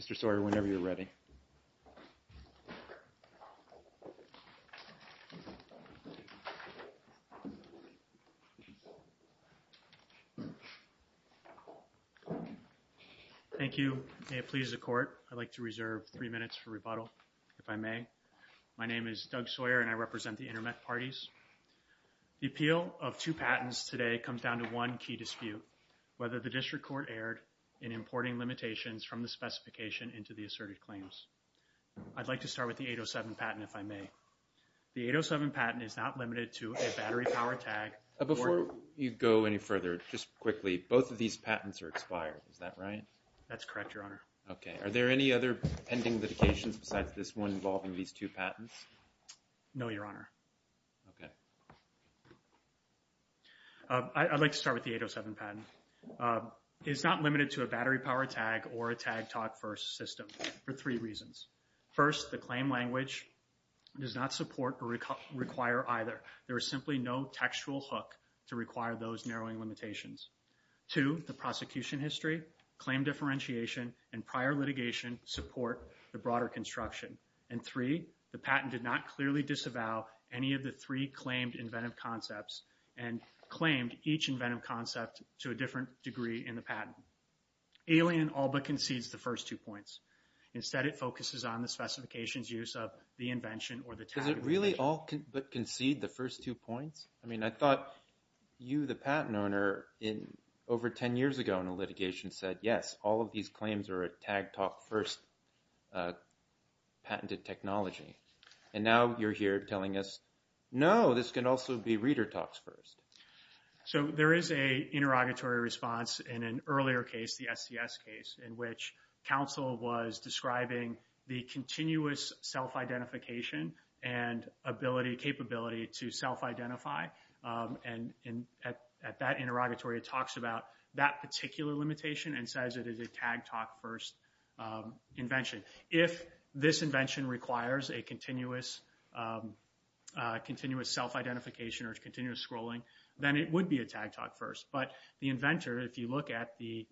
Mr. Sawyer, whenever you're ready. Thank you. May it please the Court, I'd like to reserve three minutes for rebuttal, if I may. My name is Doug Sawyer and I represent the Intermec Parties. The appeal of two patents today comes down to one key dispute, whether the District Court erred in importing limitations from the specification into the asserted claims. I'd like to start with the 807 patent, if I may. The 807 patent is not limited to a battery power tag. Before you go any further, just quickly, both of these patents are expired, is that right? That's correct, Your Honor. Okay. Are there any other pending litigations besides this one involving these two patents? No, Your Honor. Okay. I'd like to start with the 807 patent. It's not limited to a battery power tag or a tag-talk-first system for three reasons. First, the claim language does not support or require either. There is simply no textual hook to require those narrowing limitations. Two, the prosecution history, claim differentiation, and prior litigation support the broader construction. And three, the patent did not clearly disavow any of the three claimed inventive concepts and claimed each inventive concept to a different degree in the patent. Alien all but concedes the first two points. Instead, it focuses on the specification's use of the invention or the tag. Does it really all but concede the first two points? I mean, I thought you, the patent owner, over 10 years ago in a litigation said, yes, all of these claims are a tag-talk-first patented technology. And now you're here telling us, no, this could also be reader talks first. So there is an interrogatory response in an earlier case, the SCS case, in which counsel was describing the continuous self-identification and capability to self-identify. And at that interrogatory, it talks about that particular limitation and says it is a tag-talk-first invention. If this invention requires a continuous self-identification or continuous scrolling, then it would be a tag-talk-first. But the inventor, if you look at the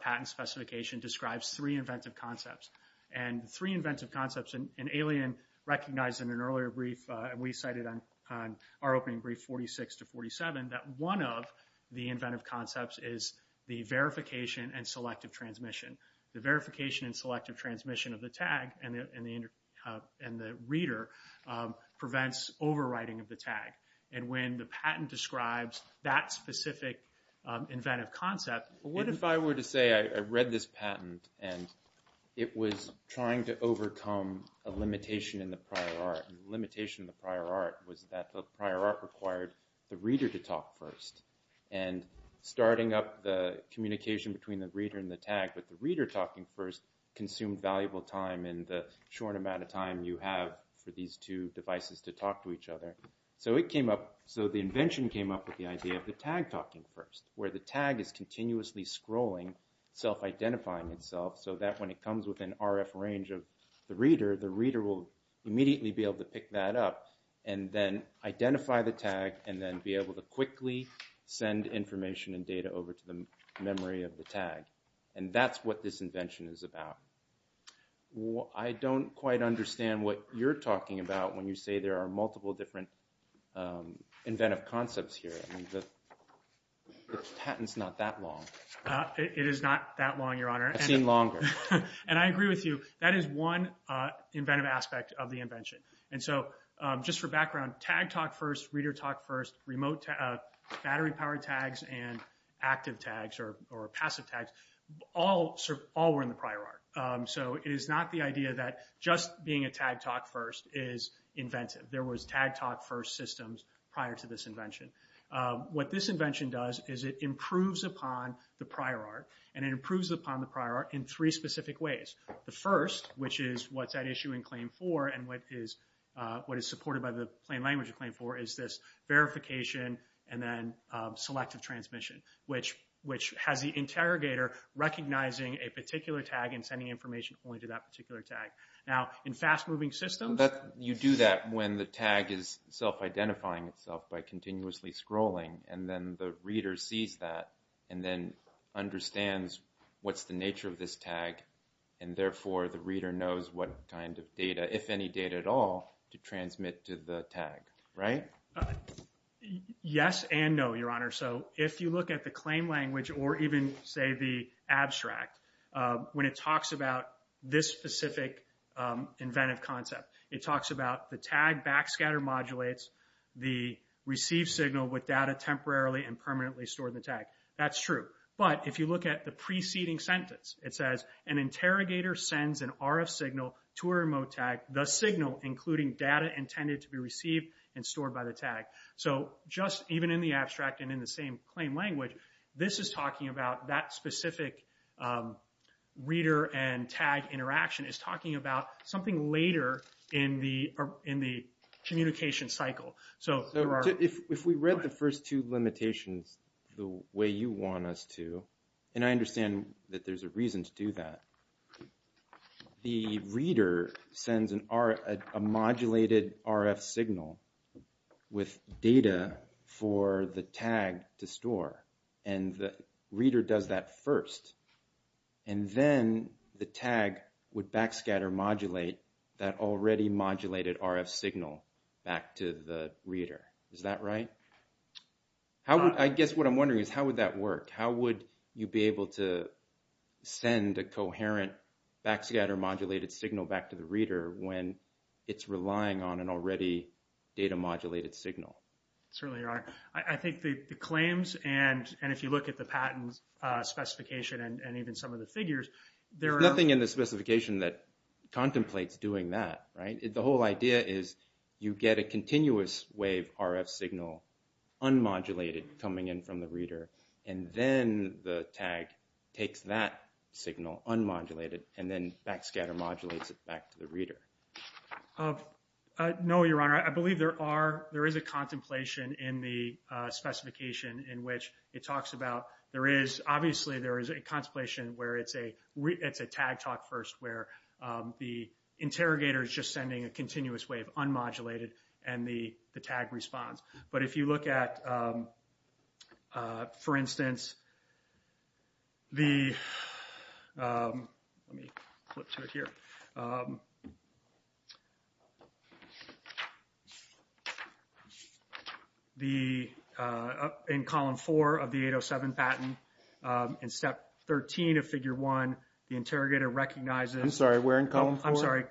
patent specification, describes three inventive concepts. And three inventive concepts, and Alien recognized in an earlier brief, and we cited on our opening brief 46 to 47, that one of the inventive concepts is the verification and selective transmission. The verification and selective transmission of the tag and the reader prevents overwriting of the tag. And when the patent describes that specific inventive concept, what if- If I were to say I read this patent and it was trying to overcome a limitation in the prior art, and the limitation of the prior art was that the prior art required the reader to talk first. And starting up the communication between the reader and the tag with the reader talking first consumed valuable time in the short amount of time you have for these two devices to talk to each other. So it came up- So the invention came up with the idea of the tag talking first, where the tag is continuously scrolling, self-identifying itself, so that when it comes within RF range of the reader, the reader will immediately be able to pick that up and then identify the tag and then be able to quickly send information and data over to the memory of the tag. And that's what this invention is about. I don't quite understand what you're talking about when you say there are multiple different inventive concepts here. The patent's not that long. It is not that long, Your Honor. I've seen longer. And I agree with you. That is one inventive aspect of the invention. And so just for background, tag talk first, reader talk first, remote battery powered tags and active tags or passive tags, all were in the prior art. So it is not the idea that just being a tag talk first is inventive. There was tag talk first systems prior to this invention. What this invention does is it improves upon the prior art and it improves upon the prior art in three specific ways. The first, which is what's at issue in Claim 4 and what is supported by the plain language of Claim 4, is this verification and then selective transmission, which has the interrogator recognizing a particular tag and sending information only to that particular tag. Now, in fast moving systems, you do that when the tag is self-identifying itself by continuously scrolling. And then the reader sees that and then understands what's the nature of this tag. And therefore, the reader knows what kind of data, if any data at all, to transmit to the tag. Right? Yes and no, Your Honor. So if you look at the claim language or even, say, the abstract, when it talks about this specific inventive concept, it talks about the tag backscatter modulates the received signal with data temporarily and permanently stored in the tag. That's true. But if you look at the preceding sentence, it says, an interrogator sends an RF signal to a remote tag, the signal including data intended to be received and stored by the tag. So just even in the abstract and in the same plain language, this is talking about that specific reader and tag interaction is talking about something later in the communication cycle. If we read the first two limitations the way you want us to, and I understand that there's a reason to do that. The reader sends a modulated RF signal with data for the tag to store and the reader does that first. And then the tag would backscatter modulate that already modulated RF signal back to the reader. Is that right? I guess what I'm wondering is how would that work? How would you be able to send a coherent backscatter modulated signal back to the reader when it's relying on an already data modulated signal? Certainly, Your Honor. I think the claims and if you look at the patent specification and even some of the figures. There's nothing in the specification that contemplates doing that, right? The whole idea is you get a continuous wave RF signal unmodulated coming in from the reader. And then the tag takes that signal unmodulated and then backscatter modulates it back to the reader. No, Your Honor. I believe there is a contemplation in the specification in which it talks about. Obviously, there is a contemplation where it's a tag talk first where the interrogator is just sending a continuous wave unmodulated and the tag responds. But if you look at, for instance. The let me flip to it here. The in column four of the 807 patent in step 13 of figure one, the interrogator recognizes. I'm sorry, we're in column. I'm sorry.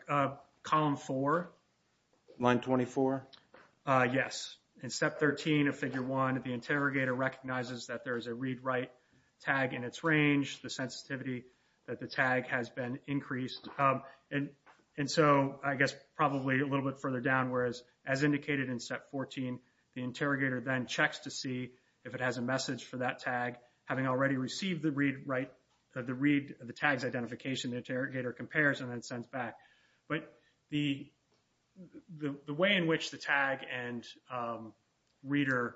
Column for line 24. Yes. In step 13 of figure one, the interrogator recognizes that there is a read write tag in its range. The sensitivity that the tag has been increased. And so I guess probably a little bit further down. Whereas, as indicated in step 14, the interrogator then checks to see if it has a message for that tag. Having already received the read write the read the tags identification, the interrogator compares and then sends back. But the the way in which the tag and reader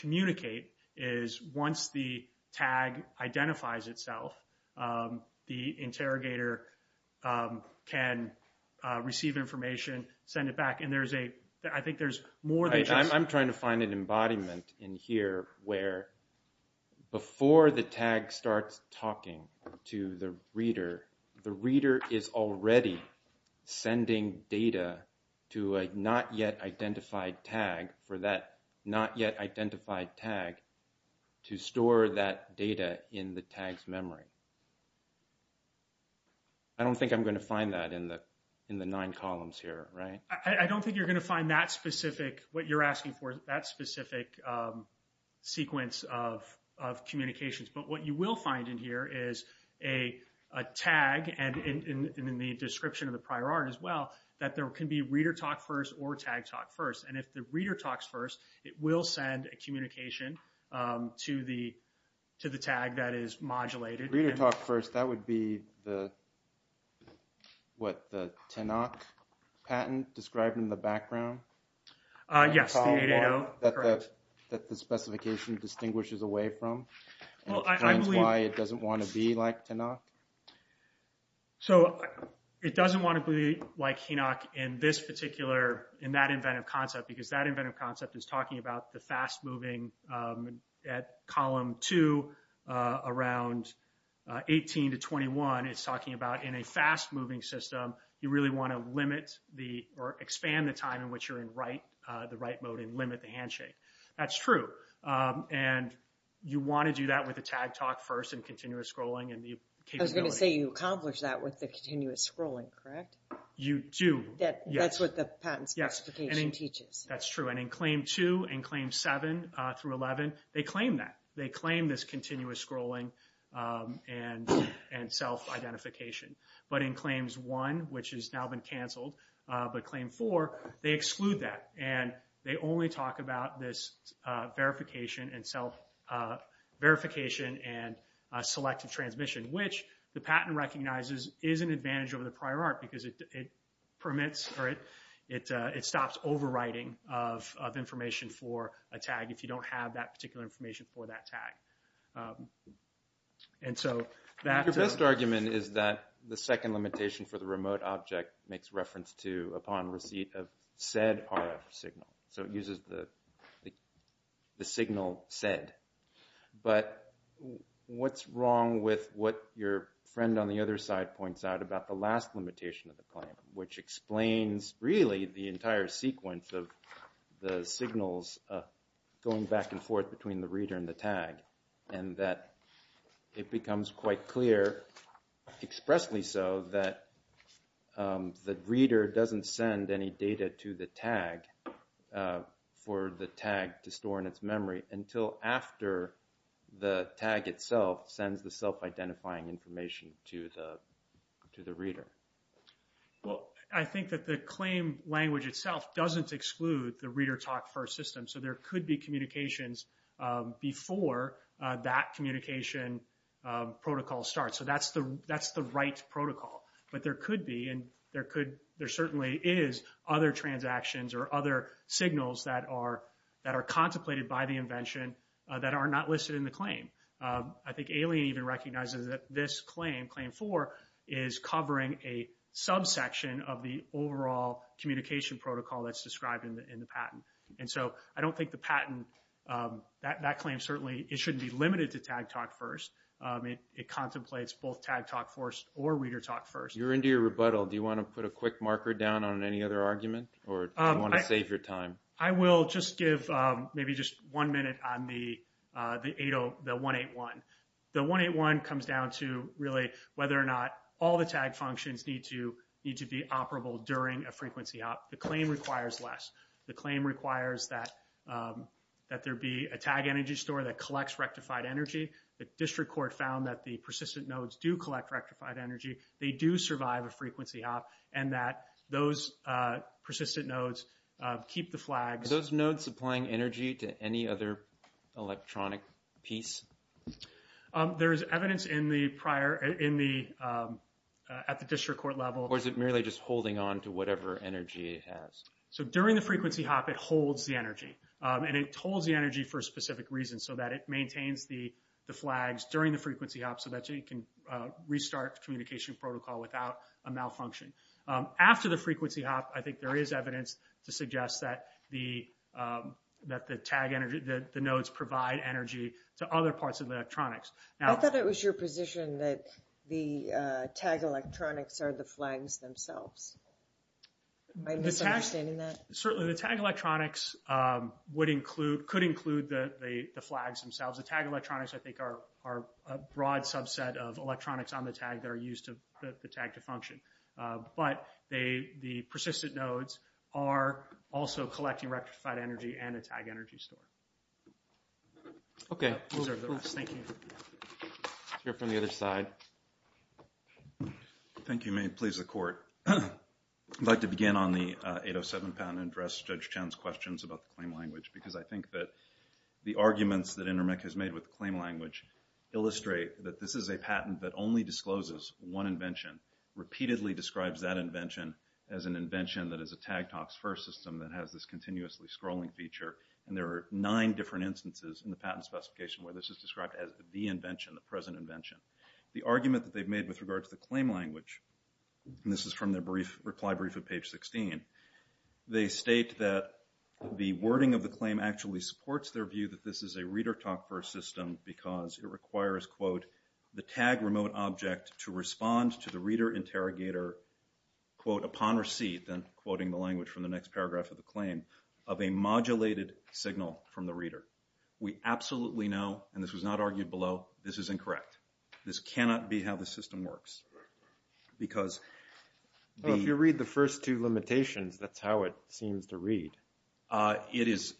communicate is once the tag identifies itself, the interrogator can receive information, send it back. And there's a I think there's more than I'm trying to find an embodiment in here where before the tag starts talking to the reader. The reader is already sending data to a not yet identified tag for that not yet identified tag to store that data in the tags memory. I don't think I'm going to find that in the in the nine columns here. Right. I don't think you're going to find that specific what you're asking for that specific sequence of of communications. But what you will find in here is a tag. And in the description of the prior art as well, that there can be reader talk first or tag talk first. And if the reader talks first, it will send a communication to the to the tag that is modulated. Reader talk first. That would be the what the Tenok patent described in the background. Yes. That the specification distinguishes away from why it doesn't want to be like Tenok. So it doesn't want to be like Tenok in this particular in that inventive concept, because that inventive concept is talking about the fast moving at column two around 18 to 21. It's talking about in a fast moving system. You really want to limit the or expand the time in which you're in right. The right mode and limit the handshake. That's true. And you want to do that with a tag talk first and continuous scrolling. I was going to say you accomplish that with the continuous scrolling, correct? You do. That's what the patent specification teaches. That's true. And in claim two and claim seven through 11, they claim that they claim this continuous scrolling and and self-identification. But in claims one, which has now been canceled by claim four, they exclude that and they only talk about this verification and self verification and selective transmission, which the patent recognizes is an advantage over the prior art because it permits or it it it stops overriding of information for a tag if you don't have that particular information for that tag. And so that's the best argument is that the second limitation for the remote object makes reference to upon receipt of said RF signal. So it uses the the signal said, but what's wrong with what your friend on the other side points out about the last limitation of the claim, which explains really the entire sequence of the signals going back and forth between the reader and the tag, and that it becomes quite clear expressly so that the reader doesn't send any data to the tag for the tag to store in its memory until after the tag itself sends the self-identifying information to the to the reader. Well, I think that the claim language itself doesn't exclude the reader talk first system. So there could be communications before that communication protocol starts. So that's the that's the right protocol. But there could be and there could there certainly is other transactions or other signals that are that are contemplated by the invention that are not listed in the claim. I think alien even recognizes that this claim claim for is covering a subsection of the overall communication protocol that's described in the patent. And so I don't think the patent that that claim certainly it shouldn't be limited to tag talk first. It contemplates both tag talk force or reader talk first. You're into your rebuttal. Do you want to put a quick marker down on any other argument or I want to save your time? I will just give maybe just one minute on the the 80 the 181 the 181 comes down to really whether or not all the tag functions need to need to be operable during a frequency. The claim requires less. The claim requires that that there be a tag energy store that collects rectified energy. The district court found that the persistent nodes do collect rectified energy. They do survive a frequency up and that those persistent nodes keep the flags. Those nodes supplying energy to any other electronic piece. There is evidence in the prior in the at the district court level or is it merely just holding on to whatever energy it has. So during the frequency hop it holds the energy and it holds the energy for a specific reason so that it maintains the flags during the frequency up so that you can restart communication protocol without a malfunction. After the frequency hop I think there is evidence to suggest that the that the tag energy that the nodes provide energy to other parts of the electronics. I thought it was your position that the tag electronics are the flags themselves. Certainly the tag electronics would include could include the flags themselves. The tag electronics I think are are a broad subset of electronics on the tag that are used to the tag to function. But they the persistent nodes are also collecting rectified energy and a tag energy store. Okay, thank you. From the other side. Thank you. May it please the court. I'd like to begin on the 807 patent and address Judge Chown's questions about the claim language. Because I think that the arguments that InterMEC has made with the claim language illustrate that this is a patent that only discloses one invention. Repeatedly describes that invention as an invention that is a tag talks first system that has this continuously scrolling feature. And there are nine different instances in the patent specification where this is described as the invention the present invention. The argument that they've made with regards to the claim language. And this is from their brief reply brief of page 16. They state that the wording of the claim actually supports their view that this is a reader talk for a system because it requires quote. The tag remote object to respond to the reader interrogator. Quote upon receipt then quoting the language from the next paragraph of the claim of a modulated signal from the reader. We absolutely know and this was not argued below. This is incorrect. This cannot be how the system works. Because. If you read the first two limitations that's how it seems to read. It is.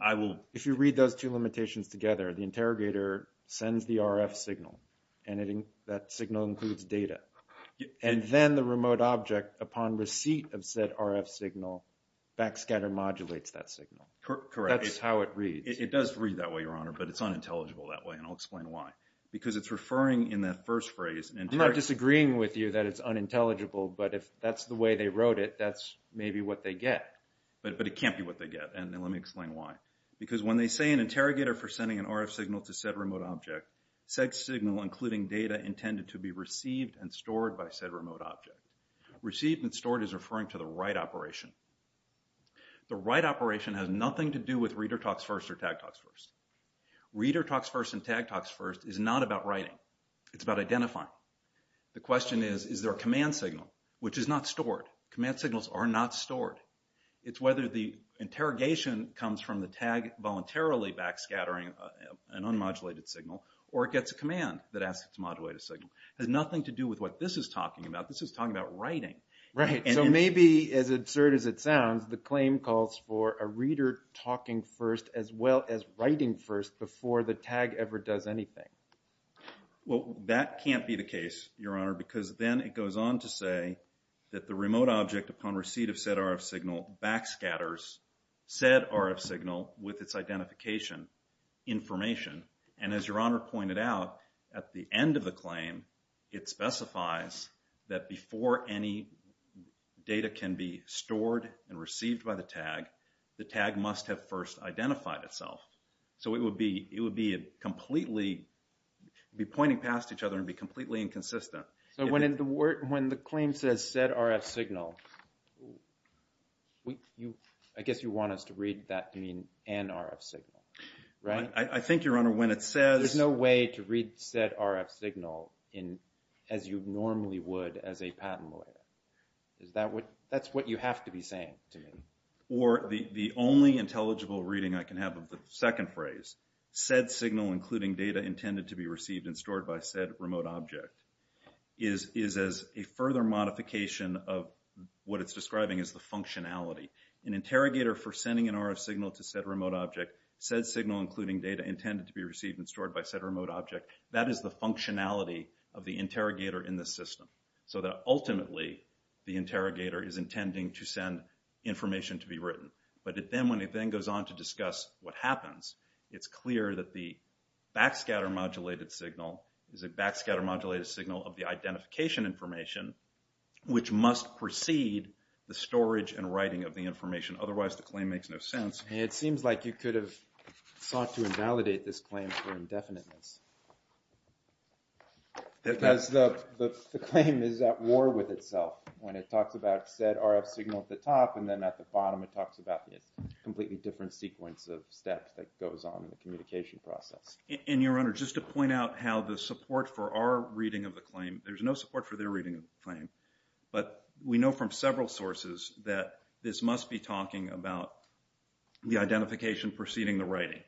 I will. If you read those two limitations together the interrogator sends the RF signal. And that signal includes data. And then the remote object upon receipt of said RF signal. Backscatter modulates that signal. Correct. That's how it reads. It does read that way your honor. But it's unintelligible that way. And I'll explain why. Because it's referring in that first phrase. I'm not disagreeing with you that it's unintelligible. But if that's the way they wrote it that's maybe what they get. But it can't be what they get. And let me explain why. Because when they say an interrogator for sending an RF signal to said remote object. Said signal including data intended to be received and stored by said remote object. Received and stored is referring to the right operation. The right operation has nothing to do with reader talks first or tag talks first. Reader talks first and tag talks first is not about writing. It's about identifying. The question is, is there a command signal? Which is not stored. Command signals are not stored. It's whether the interrogation comes from the tag voluntarily backscattering an unmodulated signal. Or it gets a command that asks it to modulate a signal. It has nothing to do with what this is talking about. This is talking about writing. Right. So maybe as absurd as it sounds. The claim calls for a reader talking first as well as writing first before the tag ever does anything. Well, that can't be the case, Your Honor. Because then it goes on to say that the remote object upon receipt of said RF signal backscatters said RF signal with its identification information. And as Your Honor pointed out, at the end of the claim, it specifies that before any data can be stored and received by the tag, the tag must have first identified itself. So it would be completely, be pointing past each other and be completely inconsistent. So when the claim says said RF signal, I guess you want us to read that to mean an RF signal, right? I think, Your Honor, when it says… There's no way to read said RF signal as you normally would as a patent lawyer. That's what you have to be saying to me. Or the only intelligible reading I can have of the second phrase, said signal including data intended to be received and stored by said remote object, is as a further modification of what it's describing as the functionality. An interrogator for sending an RF signal to said remote object, said signal including data intended to be received and stored by said remote object, that is the functionality of the interrogator in the system. So that ultimately, the interrogator is intending to send information to be written. But when it then goes on to discuss what happens, it's clear that the backscatter modulated signal is a backscatter modulated signal of the identification information, which must precede the storage and writing of the information. Otherwise, the claim makes no sense. It seems like you could have sought to invalidate this claim for indefiniteness. Because the claim is at war with itself. When it talks about said RF signal at the top and then at the bottom, it talks about a completely different sequence of steps that goes on in the communication process. And, Your Honor, just to point out how the support for our reading of the claim, there's no support for their reading of the claim. But we know from several sources that this must be talking about the identification preceding the writing.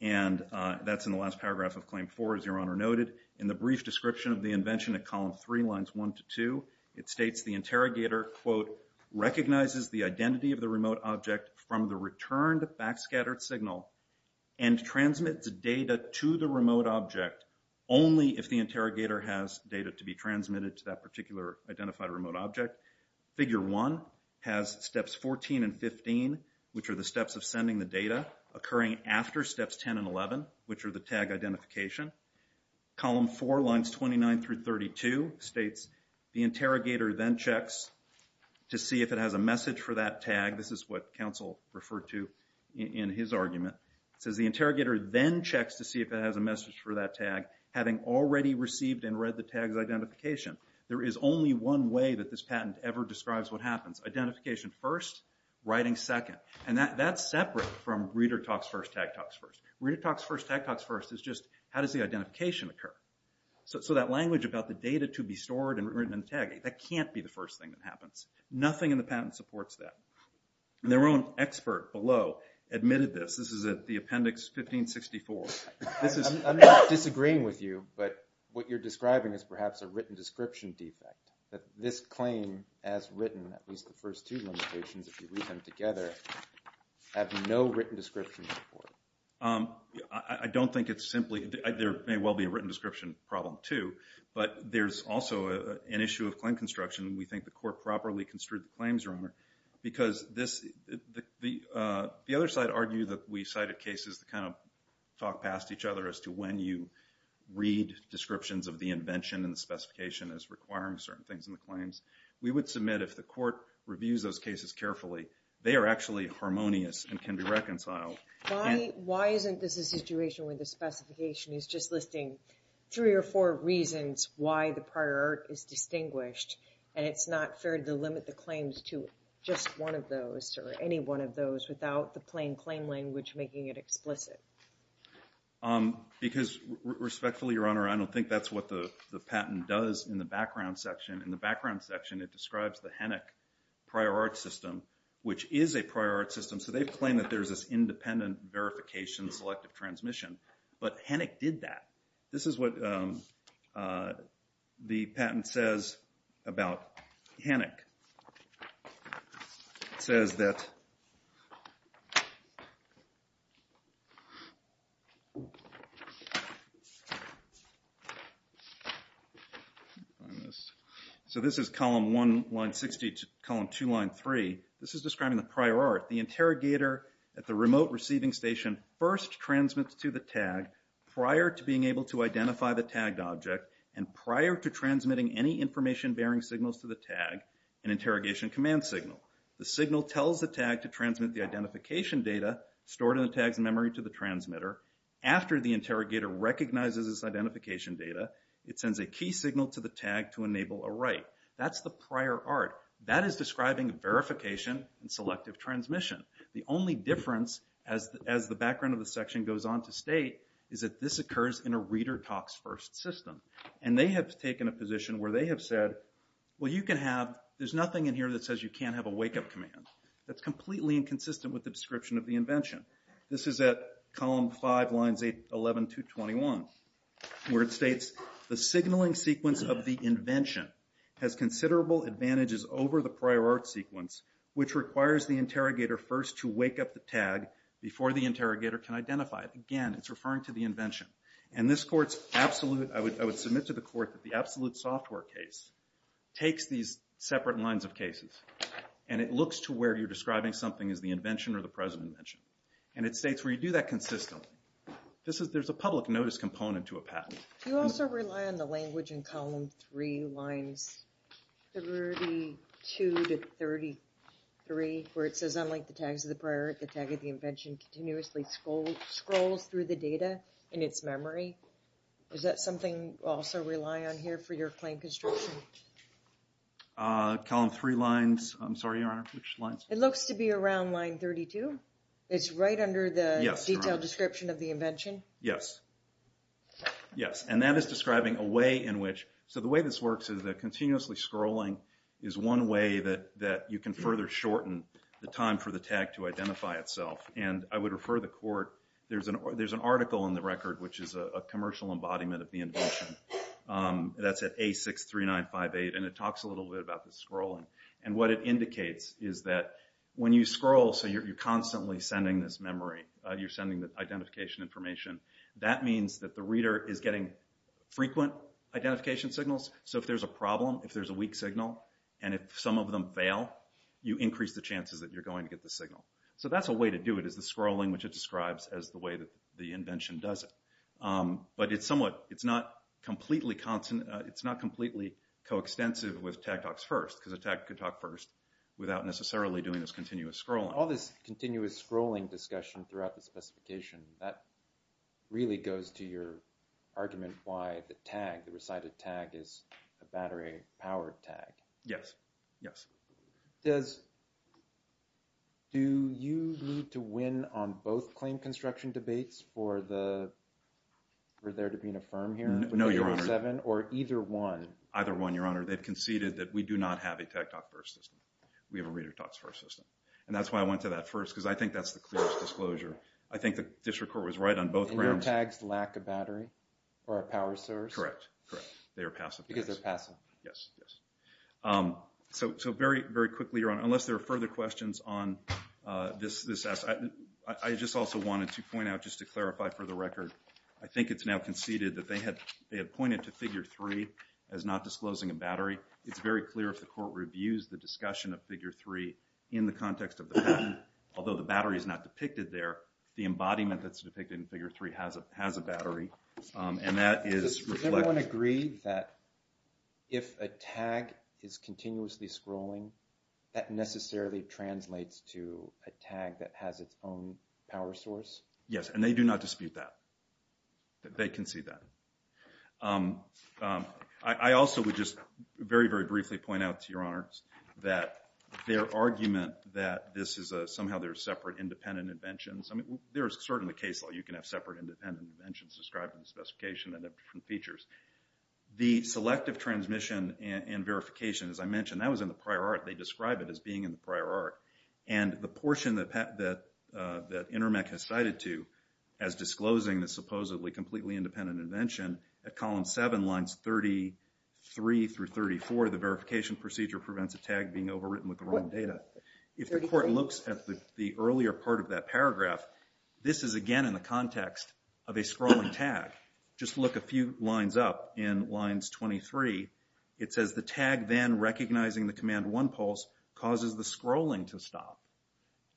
And that's in the last paragraph of Claim 4, as Your Honor noted. In the brief description of the invention at Column 3, Lines 1 to 2, it states the interrogator, quote, recognizes the identity of the remote object from the returned backscattered signal and transmits data to the remote object only if the interrogator has data to be transmitted to that particular identified remote object. Figure 1 has Steps 14 and 15, which are the steps of sending the data, occurring after Steps 10 and 11, which are the tag identification. Column 4, Lines 29 through 32, states the interrogator then checks to see if it has a message for that tag. This is what counsel referred to in his argument. It says the interrogator then checks to see if it has a message for that tag, having already received and read the tag's identification. There is only one way that this patent ever describes what happens. Identification first, writing second. And that's separate from reader talks first, tag talks first. Reader talks first, tag talks first is just how does the identification occur? So that language about the data to be stored and written in the tag, that can't be the first thing that happens. Nothing in the patent supports that. And their own expert below admitted this. This is at the appendix 1564. I'm not disagreeing with you, but what you're describing is perhaps a written description defect, that this claim as written, at least the first two limitations, if you read them together, have no written description. I don't think it's simply – there may well be a written description problem, too, but there's also an issue of claim construction. We think the court properly construed the claims wrong because this – the other side argued that we cited cases that kind of talk past each other as to when you read descriptions of the invention and the specification as requiring certain things in the claims. We would submit if the court reviews those cases carefully, they are actually harmonious and can be reconciled. Why isn't this a situation where the specification is just listing three or four reasons why the prior art is distinguished and it's not fair to limit the claims to just one of those or any one of those without the plain claim language making it explicit? Because respectfully, Your Honor, I don't think that's what the patent does in the background section. In the background section, it describes the Hennick prior art system, which is a prior art system. So they claim that there's this independent verification selective transmission, but Hennick did that. This is what the patent says about Hennick. It says that – so this is column 1, line 60 to column 2, line 3. This is describing the prior art. The interrogator at the remote receiving station first transmits to the tag prior to being able to identify the tagged object and prior to transmitting any information bearing signals to the tag an interrogation command signal. The signal tells the tag to transmit the identification data stored in the tag's memory to the transmitter. After the interrogator recognizes this identification data, it sends a key signal to the tag to enable a write. That's the prior art. That is describing verification and selective transmission. The only difference, as the background of the section goes on to state, is that this occurs in a reader talks first system. And they have taken a position where they have said, well, you can have – there's nothing in here that says you can't have a wake-up command. That's completely inconsistent with the description of the invention. This is at column 5, lines 11 to 21, where it states, the signaling sequence of the invention has considerable advantages over the prior art sequence, which requires the interrogator first to wake up the tag before the interrogator can identify it. Again, it's referring to the invention. And this court's absolute – I would submit to the court that the absolute software case takes these separate lines of cases, and it looks to where you're describing something as the invention or the present invention. And it states where you do that consistently. There's a public notice component to a patent. Do you also rely on the language in column 3, lines 32 to 33, where it says, unlike the tags of the prior art, the tag of the invention continuously scrolls through the data in its memory? Is that something you also rely on here for your claim construction? Column 3 lines – I'm sorry, Your Honor, which lines? It looks to be around line 32. It's right under the detailed description of the invention? Yes. Yes, and that is describing a way in which – so the way this works is that continuously scrolling is one way that you can further shorten the time for the tag to identify itself. And I would refer the court – there's an article in the record which is a commercial embodiment of the invention. That's at A63958, and it talks a little bit about the scrolling. And what it indicates is that when you scroll, so you're constantly sending this memory. You're sending the identification information. That means that the reader is getting frequent identification signals. So if there's a problem, if there's a weak signal, and if some of them fail, you increase the chances that you're going to get the signal. So that's a way to do it is the scrolling, which it describes as the way that the invention does it. But it's somewhat – it's not completely coextensive with tag talks first because a tag could talk first without necessarily doing this continuous scrolling. All this continuous scrolling discussion throughout the specification, that really goes to your argument why the tag, the recited tag, is a battery-powered tag. Yes, yes. Does – do you need to win on both claim construction debates for the – for there to be an affirm here? No, Your Honor. Or either one? Either one, Your Honor. They've conceded that we do not have a tag talk first system. We have a reader talks first system. And that's why I went to that first because I think that's the clearest disclosure. I think the district court was right on both grounds. And your tags lack a battery or a power source? Correct, correct. They are passive tags. Because they're passive. Yes, yes. So very quickly, Your Honor, unless there are further questions on this – I just also wanted to point out just to clarify for the record, I think it's now conceded that they have pointed to figure three as not disclosing a battery. It's very clear if the court reviews the discussion of figure three in the context of the patent, although the battery is not depicted there, the embodiment that's depicted in figure three has a battery. And that is – Does everyone agree that if a tag is continuously scrolling, that necessarily translates to a tag that has its own power source? Yes, and they do not dispute that. They concede that. I also would just very, very briefly point out to Your Honors that their argument that this is a – somehow there are separate independent inventions – I mean, there is certainly a case law you can have separate independent inventions described in the specification that have different features. The selective transmission and verification, as I mentioned, that was in the prior art. They describe it as being in the prior art. And the portion that Intermec has cited to as disclosing the supposedly completely independent invention, at column seven, lines 33 through 34, the verification procedure prevents a tag being overwritten with the wrong data. If the court looks at the earlier part of that paragraph, this is again in the context of a scrolling tag. Just look a few lines up in lines 23. It says the tag then recognizing the command one pulse causes the scrolling to stop.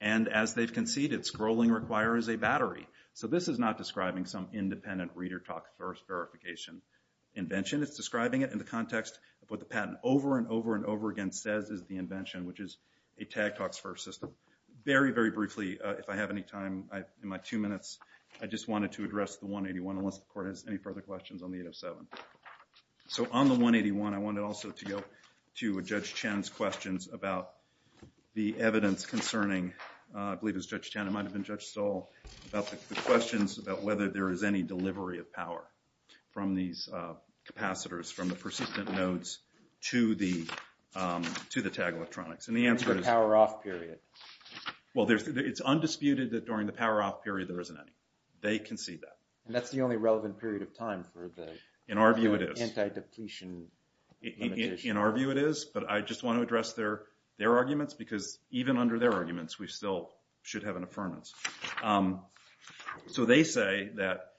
And as they've conceded, scrolling requires a battery. So this is not describing some independent reader-talk-first verification invention. It's describing it in the context of what the patent over and over and over again says is the invention, which is a tag-talks-first system. Very, very briefly, if I have any time in my two minutes, I just wanted to address the 181 unless the court has any further questions on the 807. So on the 181, I wanted also to go to Judge Chen's questions about the evidence concerning, I believe it was Judge Chen, it might have been Judge Stahl, about the questions about whether there is any delivery of power from these capacitors, from the persistent nodes to the tag electronics. And the answer is... It's the power-off period. Well, it's undisputed that during the power-off period, there isn't any. They concede that. And that's the only relevant period of time for the... In our view, it is. ...anti-depletion limitation. In our view, it is. But I just want to address their arguments because even under their arguments, we still should have an affirmance. So they say that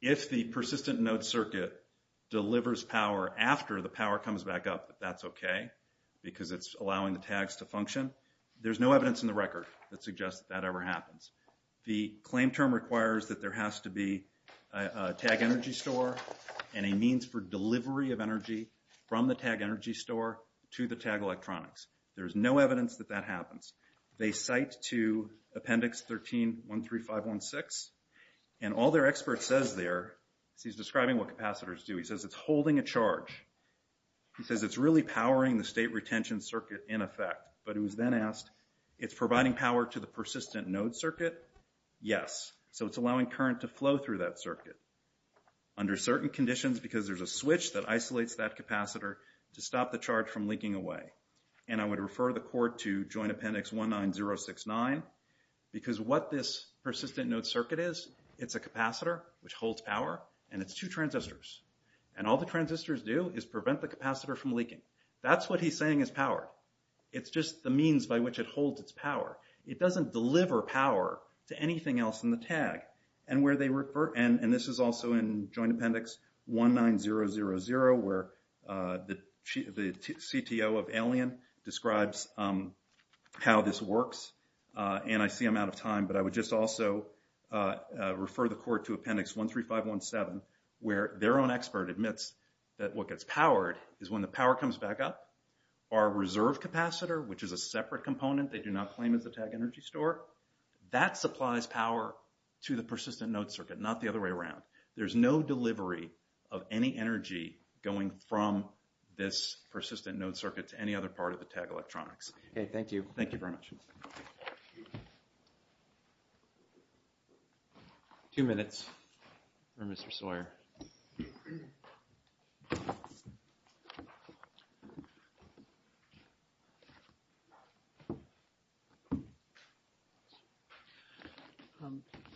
if the persistent node circuit delivers power after the power comes back up, that that's okay because it's allowing the tags to function. There's no evidence in the record that suggests that that ever happens. The claim term requires that there has to be a tag energy store and a means for delivery of energy from the tag energy store to the tag electronics. There's no evidence that that happens. They cite to Appendix 13-13516. And all their expert says there is he's describing what capacitors do. He says it's holding a charge. He says it's really powering the state retention circuit in effect. But he was then asked, it's providing power to the persistent node circuit? Yes. So it's allowing current to flow through that circuit under certain conditions because there's a switch that isolates that capacitor to stop the charge from leaking away. And I would refer the court to Joint Appendix 19069 because what this persistent node circuit is, it's a capacitor which holds power, and it's two transistors. And all the transistors do is prevent the capacitor from leaking. That's what he's saying is power. It's just the means by which it holds its power. It doesn't deliver power to anything else in the tag. And where they refer, and this is also in Joint Appendix 19000 where the CTO of Alien describes how this works. And I see I'm out of time, but I would just also refer the court to Appendix 13517 where their own expert admits that what gets powered is when the power comes back up, our reserve capacitor, which is a separate component they do not claim as the tag energy store, that supplies power to the persistent node circuit, not the other way around. There's no delivery of any energy going from this persistent node circuit to any other part of the tag electronics. Okay, thank you. Thank you very much. Thank you. Two minutes for Mr. Sawyer.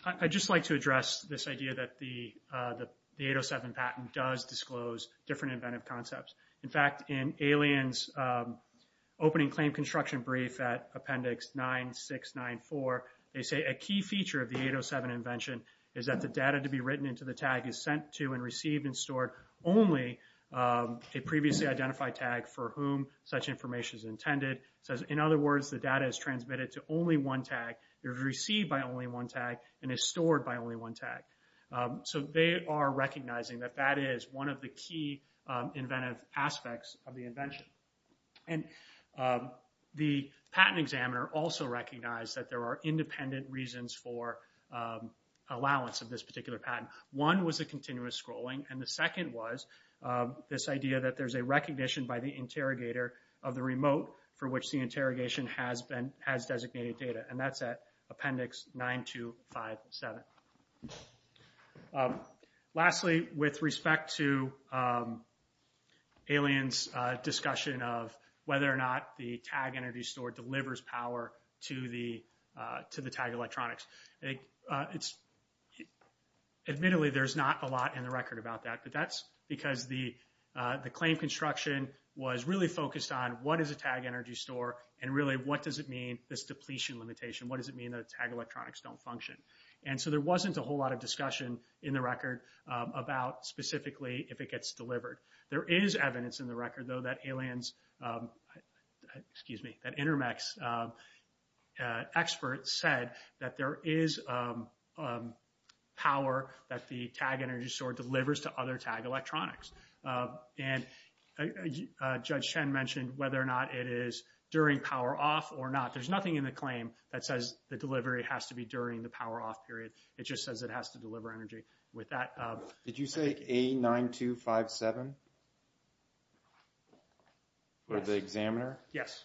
I'd just like to address this idea that the 807 patent does disclose different inventive concepts. In fact, in Alien's opening claim construction brief at Appendix 9694, they say a key feature of the 807 invention is that the data to be written into the tag is sent to and received and stored only a previously identified tag for whom such information is intended. It says, in other words, the data is transmitted to only one tag, is received by only one tag, and is stored by only one tag. So they are recognizing that that is one of the key inventive aspects of the invention. And the patent examiner also recognized that there are independent reasons for allowance of this particular patent. One was a continuous scrolling. And the second was this idea that there's a recognition by the interrogator of the remote for which the Lastly, with respect to Alien's discussion of whether or not the tag energy store delivers power to the tag electronics. Admittedly, there's not a lot in the record about that, but that's because the claim construction was really focused on what is a tag energy store and really what does it mean, this depletion limitation? What does it mean that tag electronics don't function? And so there wasn't a whole lot of discussion in the record about specifically if it gets delivered. There is evidence in the record, though, that Alien's, excuse me, that Intermex experts said that there is power that the tag energy store delivers to other tag electronics. And Judge Chen mentioned whether or not it is during power off or not. There's nothing in the claim that says the delivery has to be during the power off period. It just says it has to deliver energy with that. Did you say A9257? For the examiner? Yes.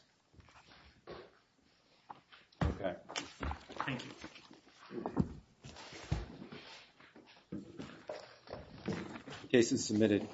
Okay. Thank you. The case is submitted.